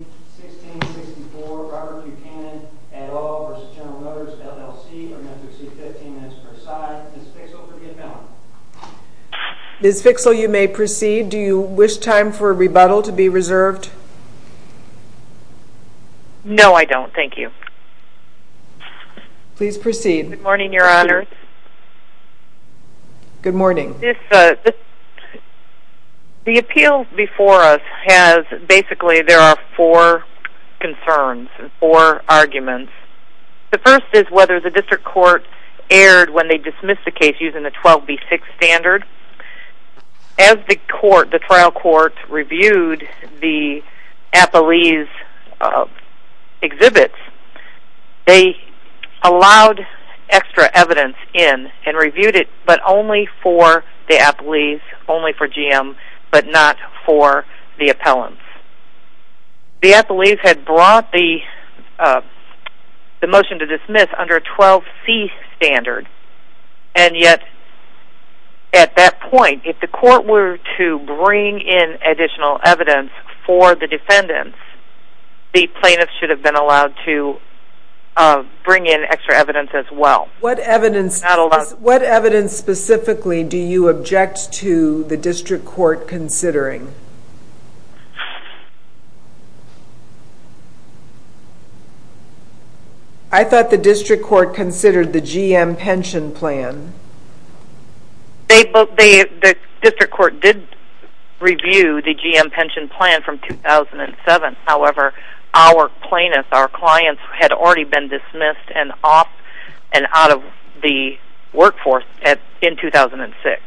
1664 Robert Buchanan et al. v. General Motors LLC or Metro C-15 as per size. Ms. Fixell, for the amount. Ms. Fixell, you may proceed. Do you wish time for a rebuttal to be reserved? No, I don't. Thank you. Please proceed. Good morning, Your Honor. Good morning. The appeal before us has, basically, there are four concerns, four arguments. The first is whether the district court erred when they dismissed the case using the 12B6 standard. As the trial court reviewed the Appleese exhibits, they allowed extra evidence in and reviewed it, but only for the Appleese, only for GM, but not for the appellants. The Appleese had brought the motion to dismiss under a 12C standard, and yet, at that point, if the court were to bring in additional evidence for the defendants, the plaintiffs should have been allowed to bring in extra evidence as well. What evidence specifically do you object to the district court considering? I thought the district court considered the GM pension plan. The district court did review the GM pension plan from 2007. However, our plaintiffs, our clients, had already been dismissed and off and out of the workforce in 2006.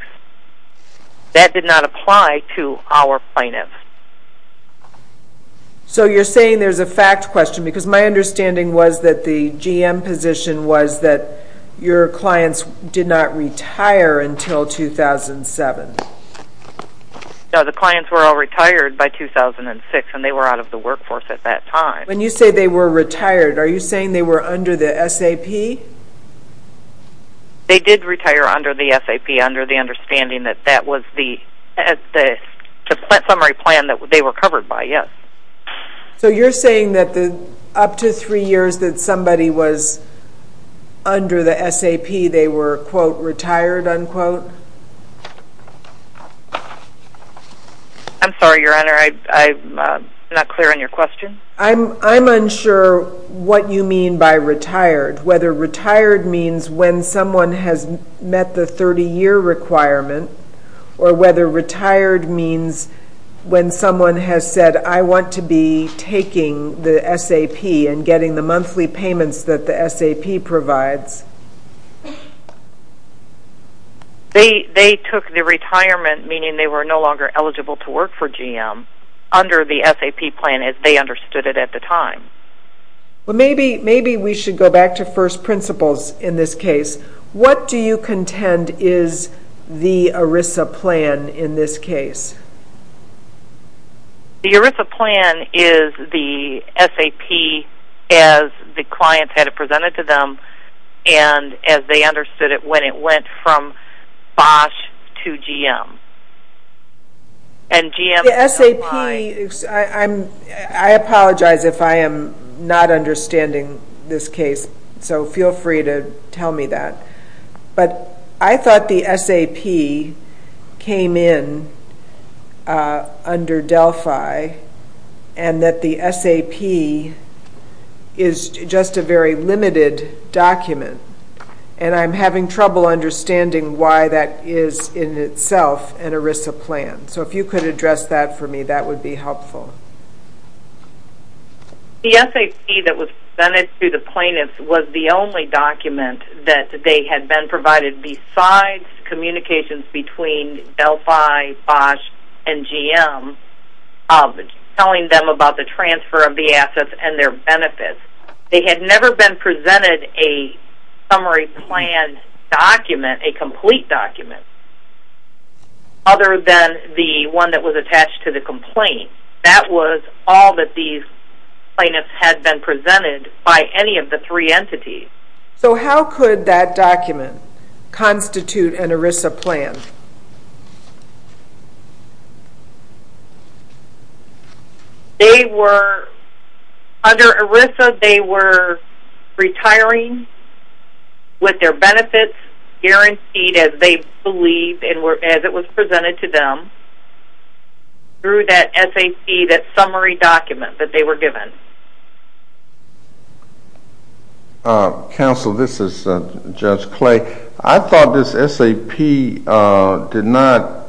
That did not apply to our plaintiffs. So, you're saying there's a fact question, because my understanding was that the GM position was that your clients did not retire until 2007. No, the clients were all retired by 2006, and they were out of the workforce at that time. When you say they were retired, are you saying they were under the SAP? They did retire under the SAP, under the understanding that that was the summary plan that they were covered by, yes. So, you're saying that up to three years that somebody was under the SAP, they were, quote, retired, unquote? I'm sorry, Your Honor, I'm not clear on your question. I'm unsure what you mean by retired. Whether retired means when someone has met the 30-year requirement, or whether retired means when someone has said, I want to be taking the SAP and getting the monthly payments that the SAP provides. They took the retirement, meaning they were no longer eligible to work for GM, under the SAP plan as they understood it at the time. Well, maybe we should go back to first principles in this case. What do you contend is the ERISA plan in this case? The ERISA plan is the SAP as the client had it presented to them, and as they understood it when it went from BOSH to GM. The SAP, I apologize if I am not understanding this case, so feel free to tell me that. But I thought the SAP came in under Delphi, and that the SAP is just a very limited document, and I'm having trouble understanding why that is in itself an ERISA plan. So, if you could address that for me, that would be helpful. The SAP that was presented to the plaintiffs was the only document that they had been provided besides communications between Delphi, BOSH, and GM, telling them about the transfer of the assets and their benefits. They had never been presented a summary plan document, a complete document, other than the one that was attached to the complaint. That was all that these plaintiffs had been presented by any of the three entities. So, how could that document constitute an ERISA plan? Under ERISA, they were retiring with their benefits guaranteed as they believed as it was presented to them through that SAP, that summary document that they were given. Counsel, this is Judge Clay. I thought this SAP did not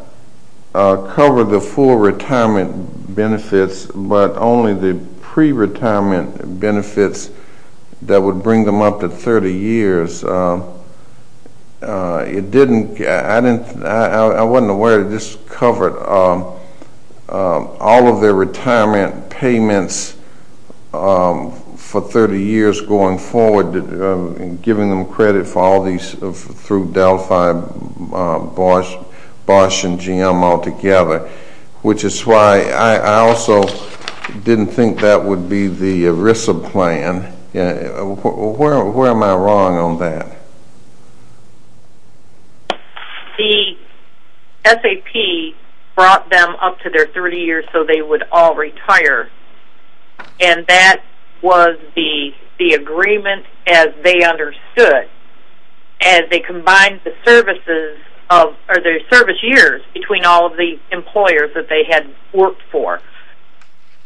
cover the full retirement benefits, but only the pre-retirement benefits that would bring them up to 30 years. I wasn't aware that this covered all of their retirement payments for 30 years going forward, giving them credit for all these through Delphi, BOSH, and GM altogether, which is why I also didn't think that would be the ERISA plan. Where am I wrong on that? The SAP brought them up to their 30 years so they would all retire, and that was the agreement as they understood, as they combined their service years between all of the employers that they had worked for.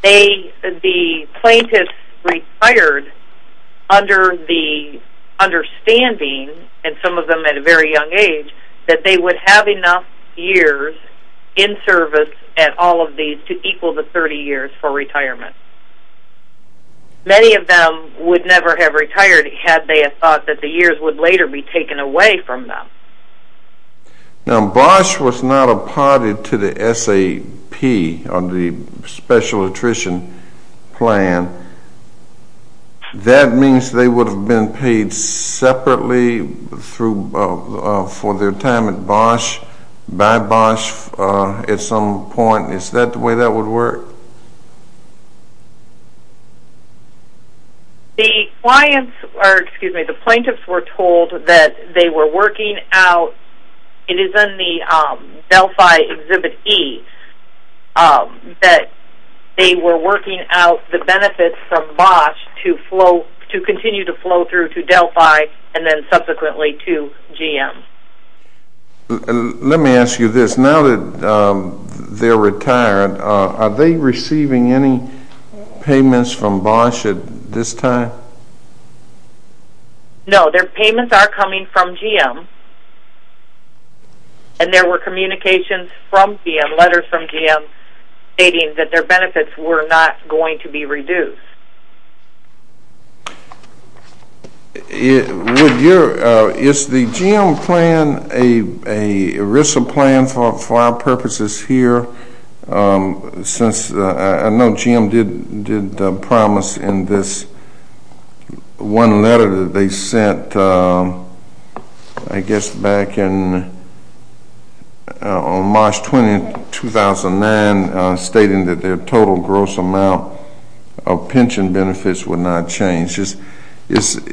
The plaintiffs retired under the understanding, and some of them at a very young age, that they would have enough years in service at all of these to equal the 30 years for retirement. Many of them would never have retired had they thought that the years would later be taken away from them. Now, BOSH was not apparted to the SAP on the special attrition plan. That means they would have been paid separately for their time at BOSH by BOSH at some point. Is that the way that would work? The clients, or excuse me, the plaintiffs were told that they were working out, it is in the Delphi Exhibit E, that they were working out the benefits from BOSH to continue to flow through to Delphi and then subsequently to GM. Let me ask you this. Now that they are retired, are they receiving any payments from BOSH at this time? No, their payments are coming from GM, and there were communications from GM, letters from GM, stating that their benefits were not going to be reduced. Is the GM plan a ERISA plan for our purposes here? Since I know GM did promise in this one letter that they sent, I guess, back in March 20, 2009, stating that their total gross amount of pension benefits would not change.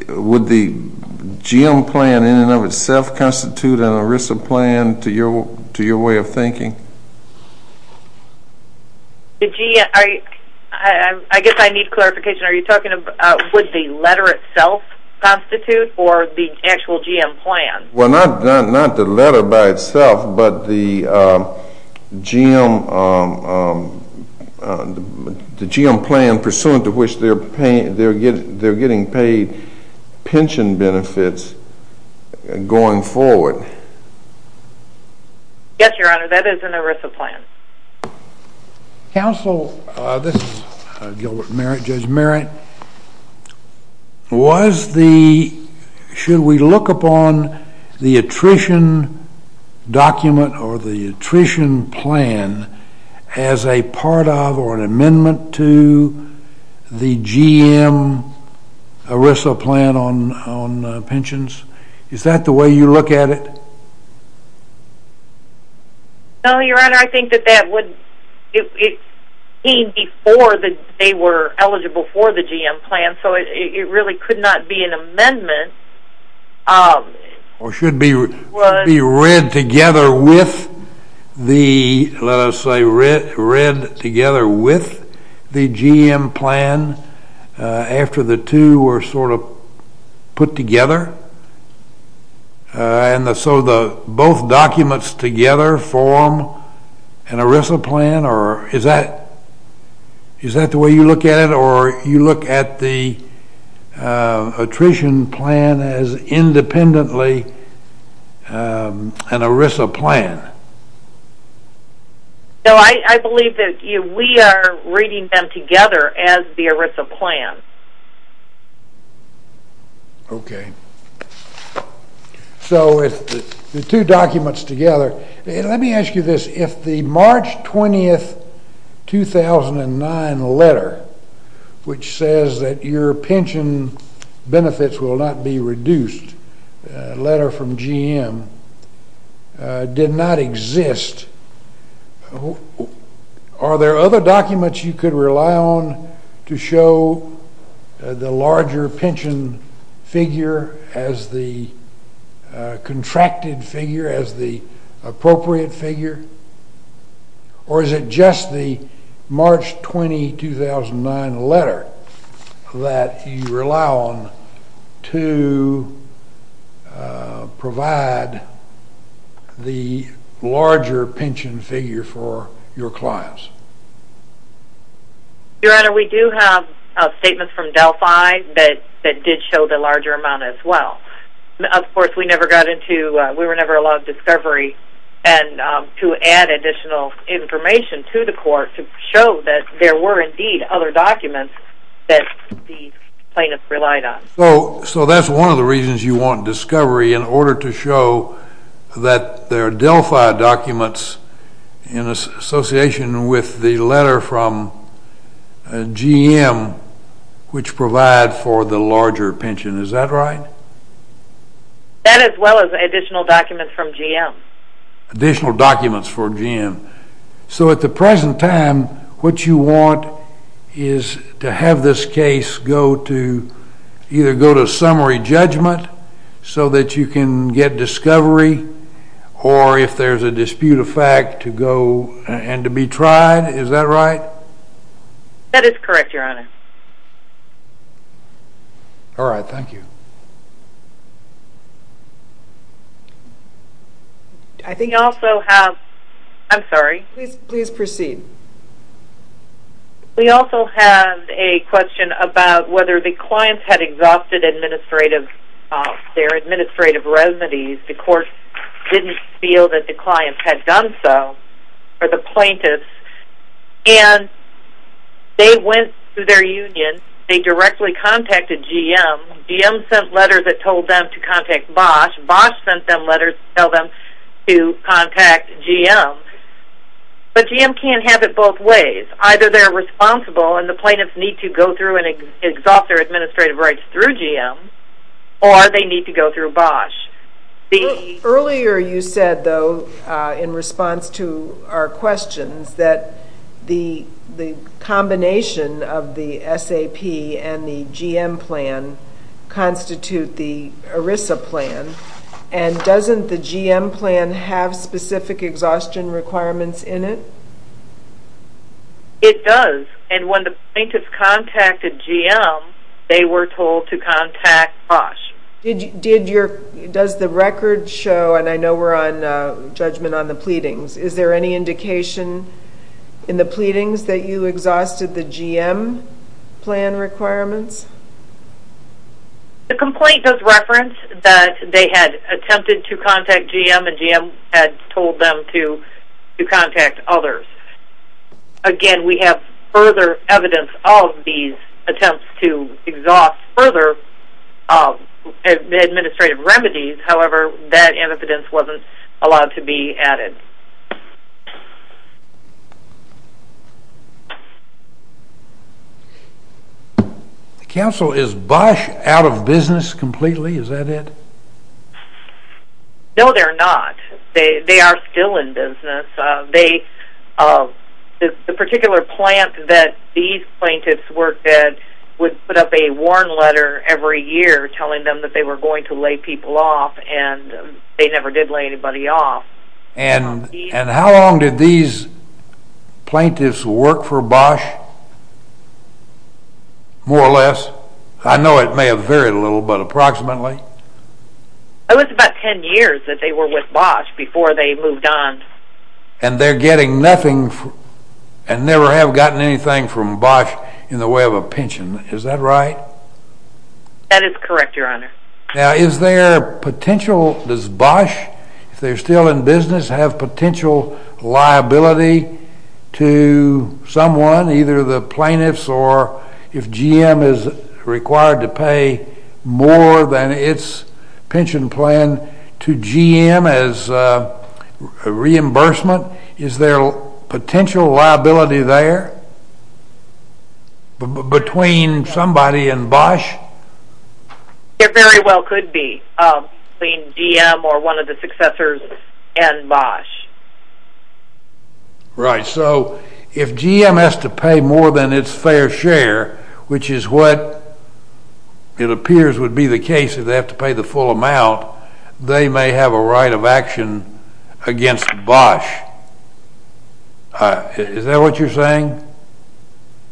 Would the GM plan in and of itself constitute an ERISA plan to your way of thinking? I guess I need clarification. Are you talking about would the letter itself constitute or the actual GM plan? Well, not the letter by itself, but the GM plan pursuant to which they are getting paid pension benefits going forward. Yes, Your Honor, that is an ERISA plan. Counsel, this is Gilbert Merritt, Judge Merritt. Was the, should we look upon the attrition document or the attrition plan as a part of or an amendment to the GM ERISA plan on pensions? Is that the way you look at it? No, Your Honor, I think that that would, it came before they were eligible for the GM plan, so it really could not be an amendment. Or should be read together with the, let us say, read together with the GM plan after the two were sort of put together. And so the both documents together form an ERISA plan or is that, is that the way you look at it or you look at the attrition plan as independently an ERISA plan? No, I believe that we are reading them together as the ERISA plan. Okay, so if the two documents together, let me ask you this, if the March 20, 2009 letter, which says that your pension benefits will not be reduced, letter from GM did not exist, are there other documents you could rely on to show the larger pension figure as the contracted figure, as the appropriate figure? Or is it just the March 20, 2009 letter that you rely on to provide the larger pension figure for your clients? Your Honor, we do have statements from Delphi that did show the larger amount as well. Of course, we never got into, we were never allowed discovery and to add additional information to the court to show that there were indeed other documents that the plaintiffs relied on. So that's one of the reasons you want discovery in order to show that there are Delphi documents in association with the letter from GM which provide for the larger pension. Is that right? That as well as additional documents from GM. Additional documents for GM. So at the present time, what you want is to have this case go to, either go to summary judgment so that you can get discovery or if there's a dispute of fact to go and to be tried. Is that right? That is correct, Your Honor. All right, thank you. We also have, I'm sorry. Please proceed. We also have a question about whether the clients had exhausted their administrative remedies. The court didn't feel that the clients had done so, or the plaintiffs, and they went to their union, they directly contacted GM. GM sent letters that told them to contact Bosch. Bosch sent them letters to tell them to contact GM. But GM can't have it both ways. Either they're responsible and the plaintiffs need to go through and exhaust their administrative rights through GM, or they need to go through Bosch. Earlier you said, though, in response to our questions, that the combination of the SAP and the GM plan constitute the ERISA plan, and doesn't the GM plan have specific exhaustion requirements in it? It does, and when the plaintiffs contacted GM, they were told to contact Bosch. Does the record show, and I know we're on judgment on the pleadings, is there any indication in the pleadings that you exhausted the GM plan requirements? The complaint does reference that they had attempted to contact GM, and GM had told them to contact others. Again, we have further evidence of these attempts to exhaust further administrative remedies, however, that evidence wasn't allowed to be added. The counsel is Bosch out of business completely, is that it? No, they're not. They are still in business. The particular plant that these plaintiffs worked at would put up a warn letter every year telling them that they were going to lay people off, and they never did lay anybody off. And how long did these plaintiffs work for Bosch, more or less? I know it may have varied a little, but approximately? It was about ten years that they were with Bosch before they moved on. And they're getting nothing, and never have gotten anything from Bosch in the way of a pension, is that right? That is correct, Your Honor. Now is there potential, does Bosch, if they're still in business, have potential liability to someone, either the plaintiffs or if GM is required to pay more than its pension plan to GM as a reimbursement? Is there potential liability there between somebody and Bosch? There very well could be, between GM or one of the successors and Bosch. Right, so if GM has to pay more than its fair share, which is what it appears would be the case if they have to pay the full amount, they may have a right of action against Bosch. Is that what you're saying?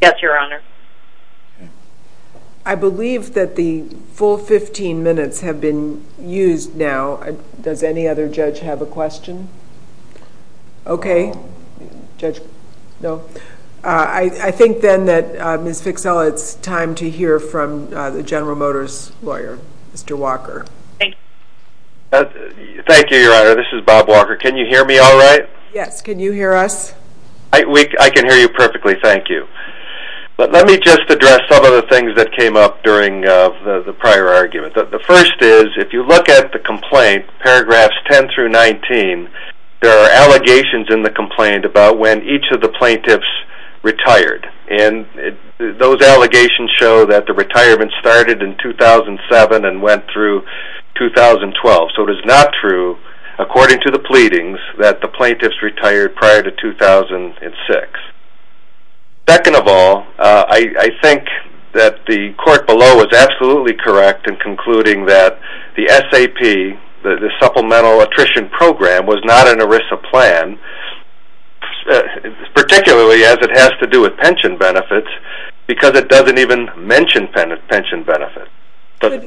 Yes, Your Honor. I believe that the full 15 minutes have been used now. Does any other judge have a question? Okay. I think then that Ms. Fixell, it's time to hear from the General Motors lawyer, Mr. Walker. Thank you, Your Honor. This is Bob Walker. Can you hear me all right? Yes, can you hear us? I can hear you perfectly, thank you. But let me just address some of the things that came up during the prior argument. The first is, if you look at the complaint, paragraphs 10 through 19, there are allegations in the complaint about when each of the plaintiffs retired. And those allegations show that the retirement started in 2007 and went through 2012. So it is not true, according to the pleadings, that the plaintiffs retired prior to 2006. Second of all, I think that the court below was absolutely correct in concluding that the SAP, the Supplemental Attrition Program, was not an ERISA plan, particularly as it has to do with pension benefits, because it doesn't even mention pension benefits. Could it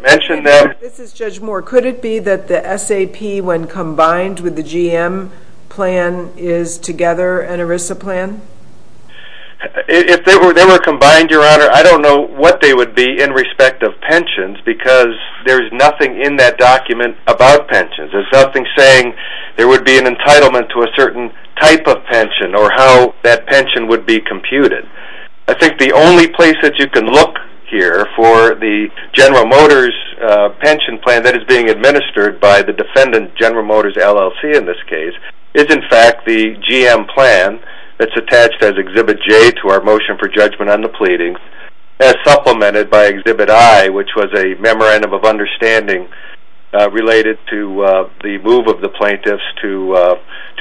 be that the SAP, when combined with the GM plan, is together an ERISA plan? If they were combined, Your Honor, I don't know what they would be in respect of pensions, because there is nothing in that document about pensions. There is nothing saying there would be an entitlement to a certain type of pension or how that pension would be computed. I think the only place that you can look here for the General Motors pension plan that is being administered by the defendant, General Motors LLC in this case, is in fact the GM plan that is attached as Exhibit J to our motion for judgment on the pleadings, as supplemented by Exhibit I, which was a Memorandum of Understanding related to the move of the plaintiffs to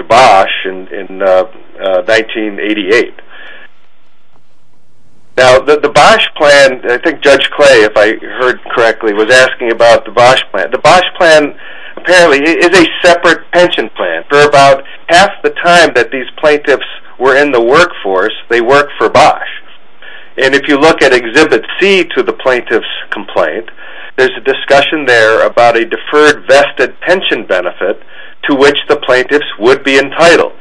Bosch in 1988. Now, the Bosch plan, I think Judge Clay, if I heard correctly, was asking about the Bosch plan. The Bosch plan apparently is a separate pension plan. For about half the time that these plaintiffs were in the workforce, they worked for Bosch. And if you look at Exhibit C to the plaintiff's complaint, there's a discussion there about a deferred vested pension benefit to which the plaintiffs would be entitled.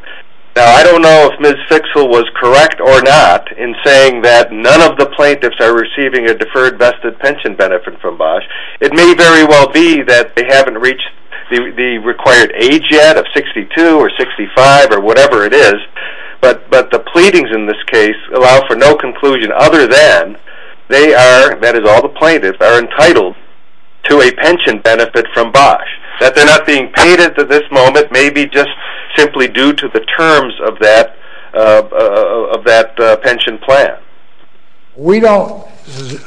Now, I don't know if Ms. Fixel was correct or not in saying that none of the plaintiffs are receiving a deferred vested pension benefit from Bosch. It may very well be that they haven't reached the required age yet of 62 or 65 or whatever it is, but the pleadings in this case allow for no conclusion other than they are, that is all the plaintiffs, are entitled to a pension benefit from Bosch. That they're not being paid at this moment may be just simply due to the terms of that pension plan. We don't,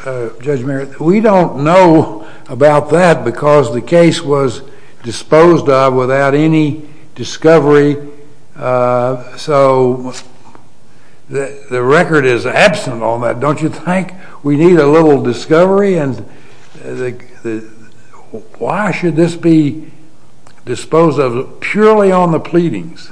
Judge Merritt, we don't know about that because the case was disposed of without any discovery. So, the record is absent on that, don't you think? We need a little discovery and why should this be disposed of purely on the pleadings?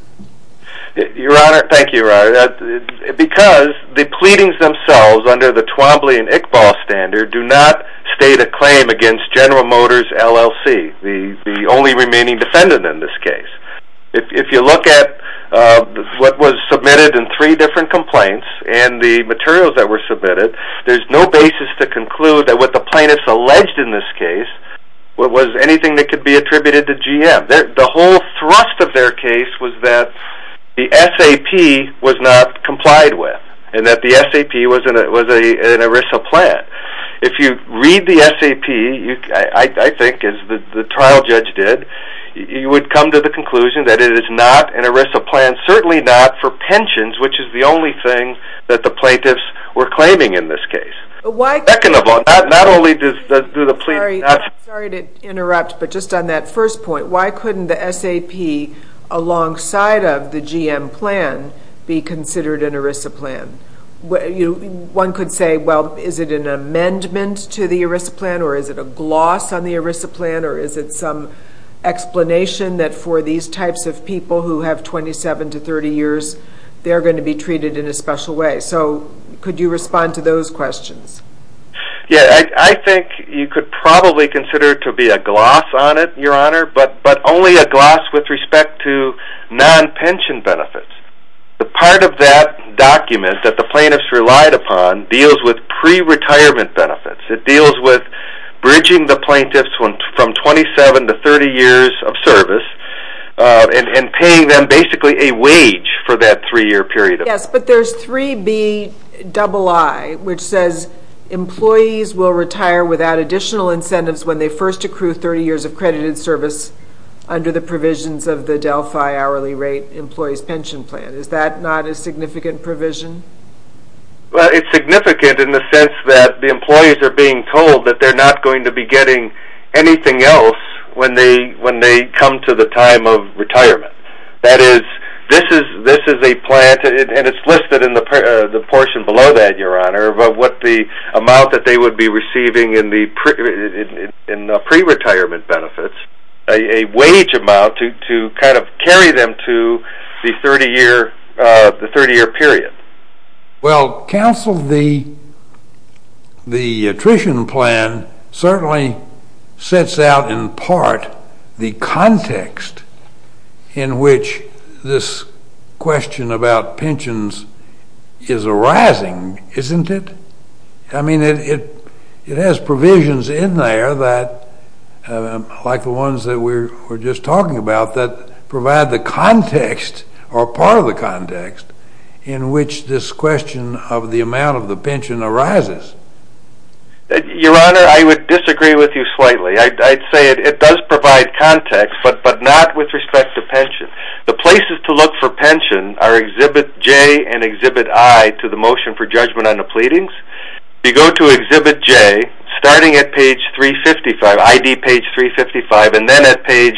Your Honor, thank you, Your Honor. Because the pleadings themselves under the Twombly and Iqbal standard do not state a claim against General Motors LLC, the only remaining defendant in this case. If you look at what was submitted in three different complaints and the materials that were submitted, there's no basis to conclude that what the plaintiffs alleged in this case was anything that could be attributed to GM. The whole thrust of their case was that the SAP was not complied with and that the SAP was an ERISA plan. If you read the SAP, I think as the trial judge did, you would come to the conclusion that it is not an ERISA plan, certainly not for pensions, which is the only thing that the plaintiffs were claiming in this case. Second of all, not only do the pleadings... Sorry to interrupt, but just on that first point, why couldn't the SAP alongside of the GM plan be considered an ERISA plan? One could say, well, is it an amendment to the ERISA plan, or is it a gloss on the ERISA plan, or is it some explanation that for these types of people who have 27 to 30 years, they're going to be treated in a special way? So, could you respond to those questions? Yeah, I think you could probably consider it to be a gloss on it, Your Honor, but only a gloss with respect to non-pension benefits. The part of that document that the plaintiffs relied upon deals with pre-retirement benefits. It deals with bridging the plaintiffs from 27 to 30 years of service and paying them basically a wage for that three-year period. Yes, but there's 3Bii, which says employees will retire without additional incentives when they first accrue 30 years of credited service under the provisions of the Delphi Hourly Rate Employees' Pension Plan. Is that not a significant provision? Well, it's significant in the sense that the employees are being told that they're not going to be getting anything else when they come to the time of retirement. That is, this is a plan, and it's listed in the portion below that, Your Honor, of what the amount that they would be receiving in the pre-retirement benefits, a wage amount to kind of carry them to the 30-year period. Well, counsel, the attrition plan certainly sets out in part the context in which this question about pensions is arising, isn't it? I mean, it has provisions in there that, like the ones that we were just talking about, that provide the context or part of the context in which this question of the amount of the pension arises. Your Honor, I would disagree with you slightly. I'd say it does provide context, but not with respect to pension. The places to look for pension are Exhibit J and Exhibit I to the Motion for Judgment on the Pleadings. If you go to Exhibit J, starting at page 355, ID page 355, and then at page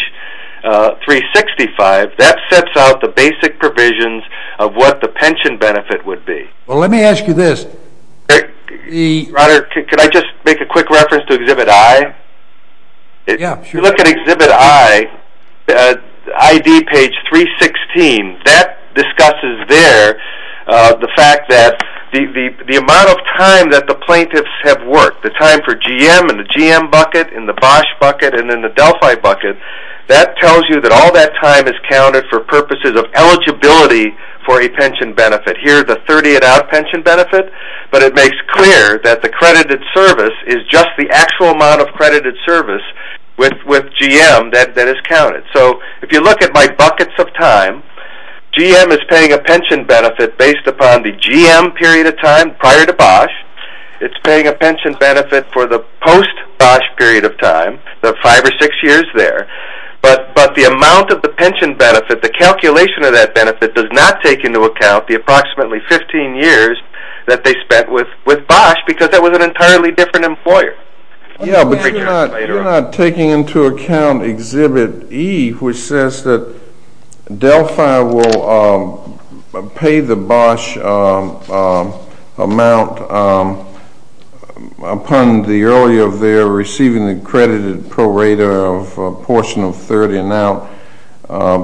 365, that sets out the basic provisions of what the pension benefit would be. Well, let me ask you this. Your Honor, could I just make a quick reference to Exhibit I? Yeah, sure. If you look at Exhibit I, ID page 316, that discusses there the fact that the amount of time that the plaintiffs have worked, the time for GM and the GM bucket and the Bosh bucket and then the Delphi bucket, that tells you that all that time is counted for purposes of eligibility for a pension benefit. Here, the 30 and out pension benefit, but it makes clear that the credited service is just the actual amount of credited service with GM that is counted. So, if you look at my buckets of time, GM is paying a pension benefit based upon the GM period of time prior to Bosh. It's paying a pension benefit for the post-Bosh period of time, the five or six years there. But the amount of the pension benefit, the calculation of that benefit does not take into account the approximately 15 years that they spent with Bosh because that was an entirely different employer. Yeah, but you're not taking into account Exhibit E, which says that Delphi will pay the Bosh amount upon the earlier of their receiving the credited prorater of a portion of 30 and out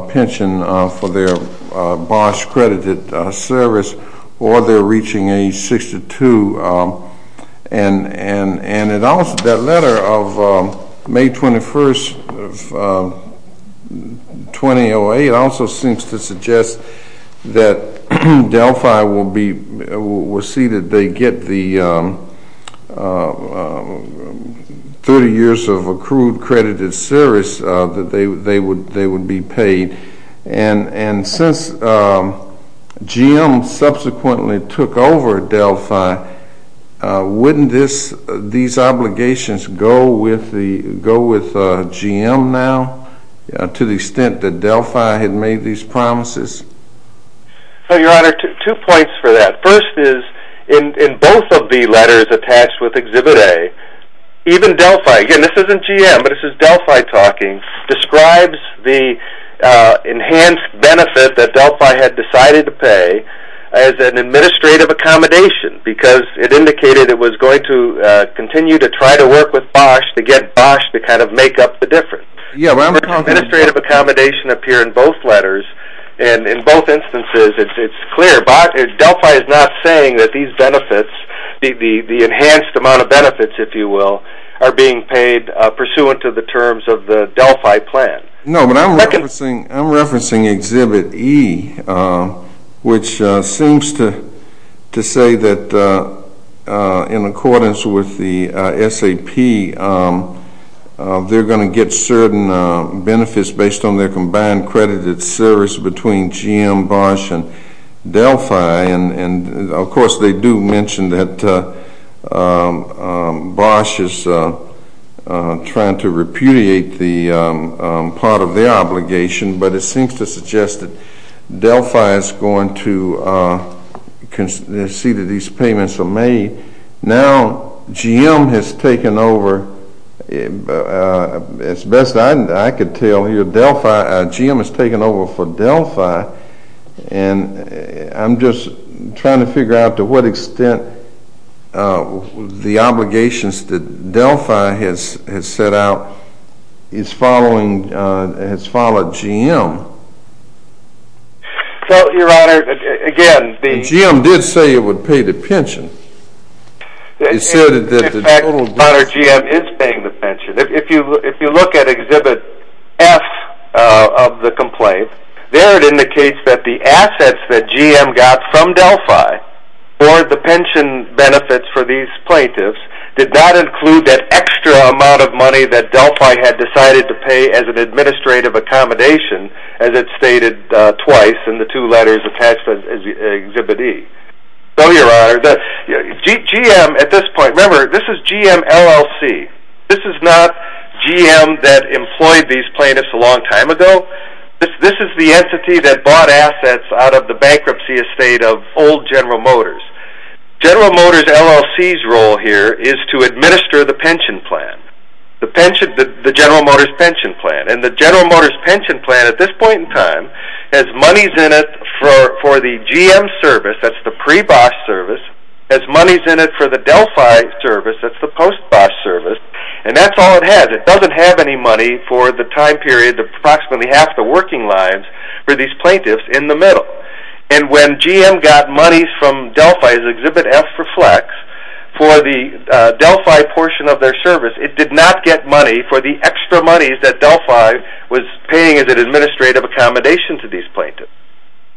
pension for their Bosh credited service or they're reaching age 62. And that letter of May 21st of 2008 also seems to suggest that Delphi will see that they get the 30 years of accrued credited service that they would be paid. And since GM subsequently took over Delphi, wouldn't these obligations go with GM now to the extent that Delphi had made these promises? Your Honor, two points for that. First is, in both of the letters attached with Exhibit A, even Delphi, again this isn't GM but this is Delphi talking, describes the enhanced benefit that Delphi had decided to pay as an administrative accommodation because it indicated it was going to continue to try to work with Bosh to get Bosh to kind of make up the difference. Administrative accommodation appear in both letters and in both instances it's clear. Delphi is not saying that these benefits, the enhanced amount of benefits, if you will, are being paid pursuant to the terms of the Delphi plan. No, but I'm referencing Exhibit E, which seems to say that in accordance with the SAP, they're going to get certain benefits based on their combined credited service between GM, Bosh, and Delphi. And, of course, they do mention that Bosh is trying to repudiate the part of their obligation, but it seems to suggest that Delphi is going to see that these payments are made. Now, GM has taken over, as best I can tell here, Delphi, GM has taken over for Delphi, and I'm just trying to figure out to what extent the obligations that Delphi has set out is following, has followed GM. Well, Your Honor, again, the— GM did say it would pay the pension. In fact, Your Honor, GM is paying the pension. If you look at Exhibit F of the complaint, there it indicates that the assets that GM got from Delphi for the pension benefits for these plaintiffs did not include that extra amount of money that Delphi had decided to pay as an administrative accommodation, as it's stated twice in the two letters attached to Exhibit E. So, Your Honor, GM at this point—remember, this is GM LLC. This is not GM that employed these plaintiffs a long time ago. This is the entity that bought assets out of the bankruptcy estate of old General Motors. General Motors LLC's role here is to administer the pension plan, the General Motors pension plan, and the General Motors pension plan at this point in time has monies in it for the GM service, that's the pre-Bosch service, has monies in it for the Delphi service, that's the post-Bosch service, and that's all it has. It doesn't have any money for the time period, approximately half the working lives, for these plaintiffs in the middle. And when GM got monies from Delphi, as Exhibit F reflects, for the Delphi portion of their service, it did not get money for the extra monies that Delphi was paying as an administrative accommodation to these plaintiffs.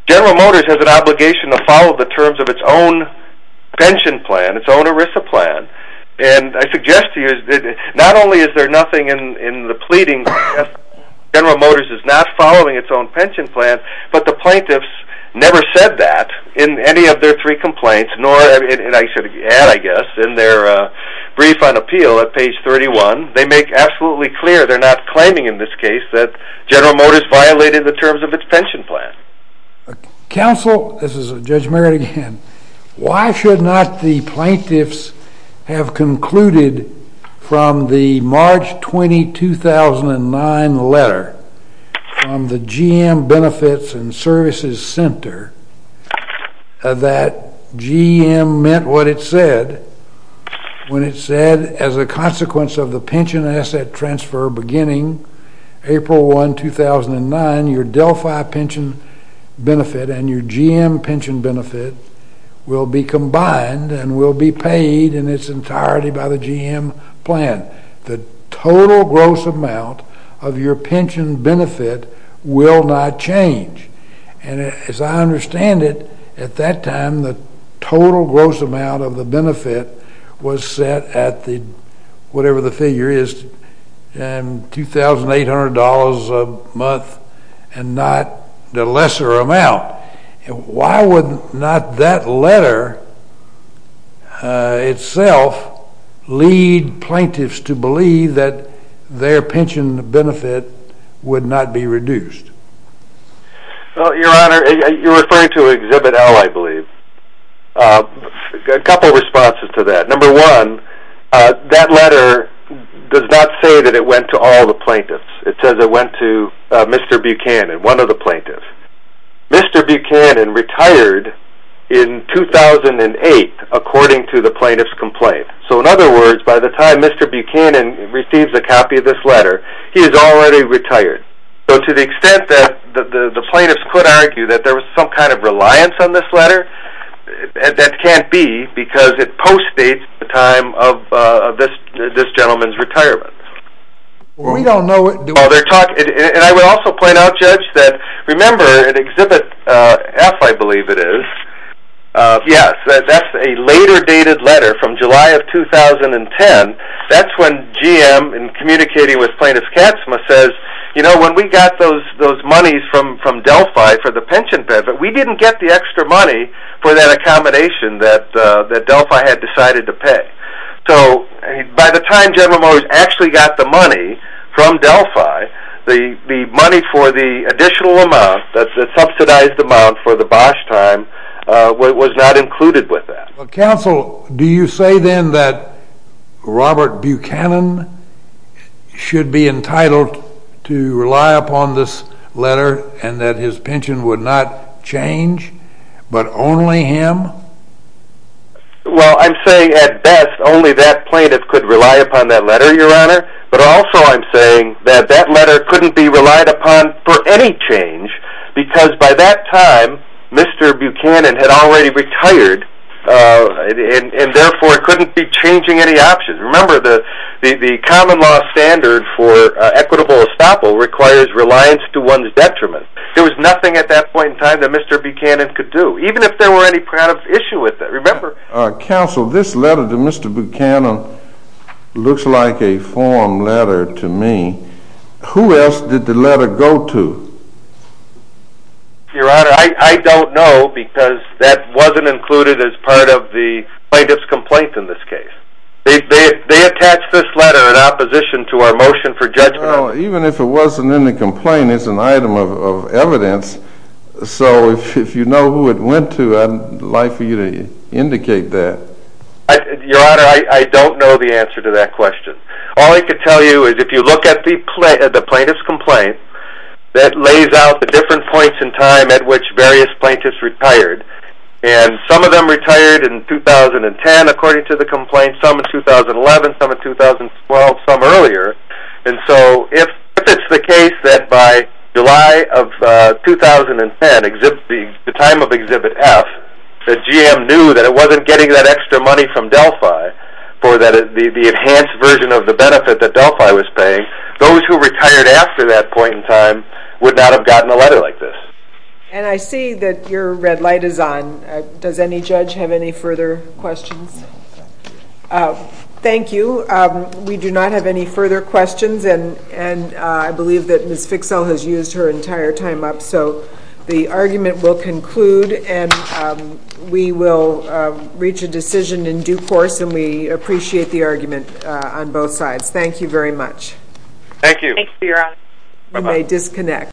General Motors has an obligation to follow the terms of its own pension plan, its own ERISA plan. And I suggest to you that not only is there nothing in the pleadings to suggest that General Motors is not following its own pension plan, but the plaintiffs never said that in any of their three complaints, nor, and I should add, I guess, in their brief on appeal at page 31. They make absolutely clear, they're not claiming in this case, that General Motors violated the terms of its pension plan. Counsel, this is Judge Merritt again, why should not the plaintiffs have concluded from the March 20, 2009 letter from the GM Benefits and Services Center that GM meant what it said, when it said, as a consequence of the pension asset transfer beginning April 1, 2009, your Delphi pension benefit and your GM pension benefit will be combined and will be paid in its entirety by the GM plan. The total gross amount of your pension benefit will not change. And as I understand it, at that time, the total gross amount of the benefit was set at the, whatever the figure is, $2,800 a month and not the lesser amount. Why would not that letter itself lead plaintiffs to believe that their pension benefit would not be reduced? Your Honor, you're referring to Exhibit L, I believe. A couple of responses to that. Number one, that letter does not say that it went to all the plaintiffs. It says it went to Mr. Buchanan, one of the plaintiffs. Mr. Buchanan retired in 2008, according to the plaintiff's complaint. So in other words, by the time Mr. Buchanan receives a copy of this letter, he is already retired. So to the extent that the plaintiffs could argue that there was some kind of reliance on this letter, that can't be, because it postdates the time of this gentleman's retirement. And I would also point out, Judge, that remember in Exhibit F, I believe it is, yes, that's a later dated letter from July of 2010. That's when GM, in communicating with Plaintiff Katzma, says, you know, when we got those monies from Delphi for the pension benefit, we didn't get the extra money for that accommodation that Delphi had decided to pay. So by the time General Motors actually got the money from Delphi, the money for the additional amount, the subsidized amount for the Bosch time, was not included with that. Counsel, do you say then that Robert Buchanan should be entitled to rely upon this letter and that his pension would not change, but only him? Well, I'm saying at best only that plaintiff could rely upon that letter, Your Honor. But also I'm saying that that letter couldn't be relied upon for any change, because by that time, Mr. Buchanan had already retired, and therefore couldn't be changing any options. Remember, the common law standard for equitable estoppel requires reliance to one's detriment. There was nothing at that point in time that Mr. Buchanan could do, even if there were any kind of issue with it. Remember... Counsel, this letter to Mr. Buchanan looks like a form letter to me. Who else did the letter go to? Your Honor, I don't know, because that wasn't included as part of the plaintiff's complaint in this case. They attached this letter in opposition to our motion for judgment. Well, even if it wasn't in the complaint, it's an item of evidence, so if you know who it went to, I'd like for you to indicate that. Your Honor, I don't know the answer to that question. All I can tell you is if you look at the plaintiff's complaint, that lays out the different points in time at which various plaintiffs retired. And some of them retired in 2010, according to the complaint, some in 2011, some in 2012, some earlier. And so if it's the case that by July of 2010, the time of Exhibit F, that GM knew that it wasn't getting that extra money from Delphi for the enhanced version of the benefit that Delphi was paying, those who retired after that point in time would not have gotten a letter like this. And I see that your red light is on. Does any judge have any further questions? Thank you. We do not have any further questions, and I believe that Ms. Fixell has used her entire time up. So the argument will conclude, and we will reach a decision in due course, and we appreciate the argument on both sides. Thank you very much. Thank you. Thank you, your Honor. You may disconnect.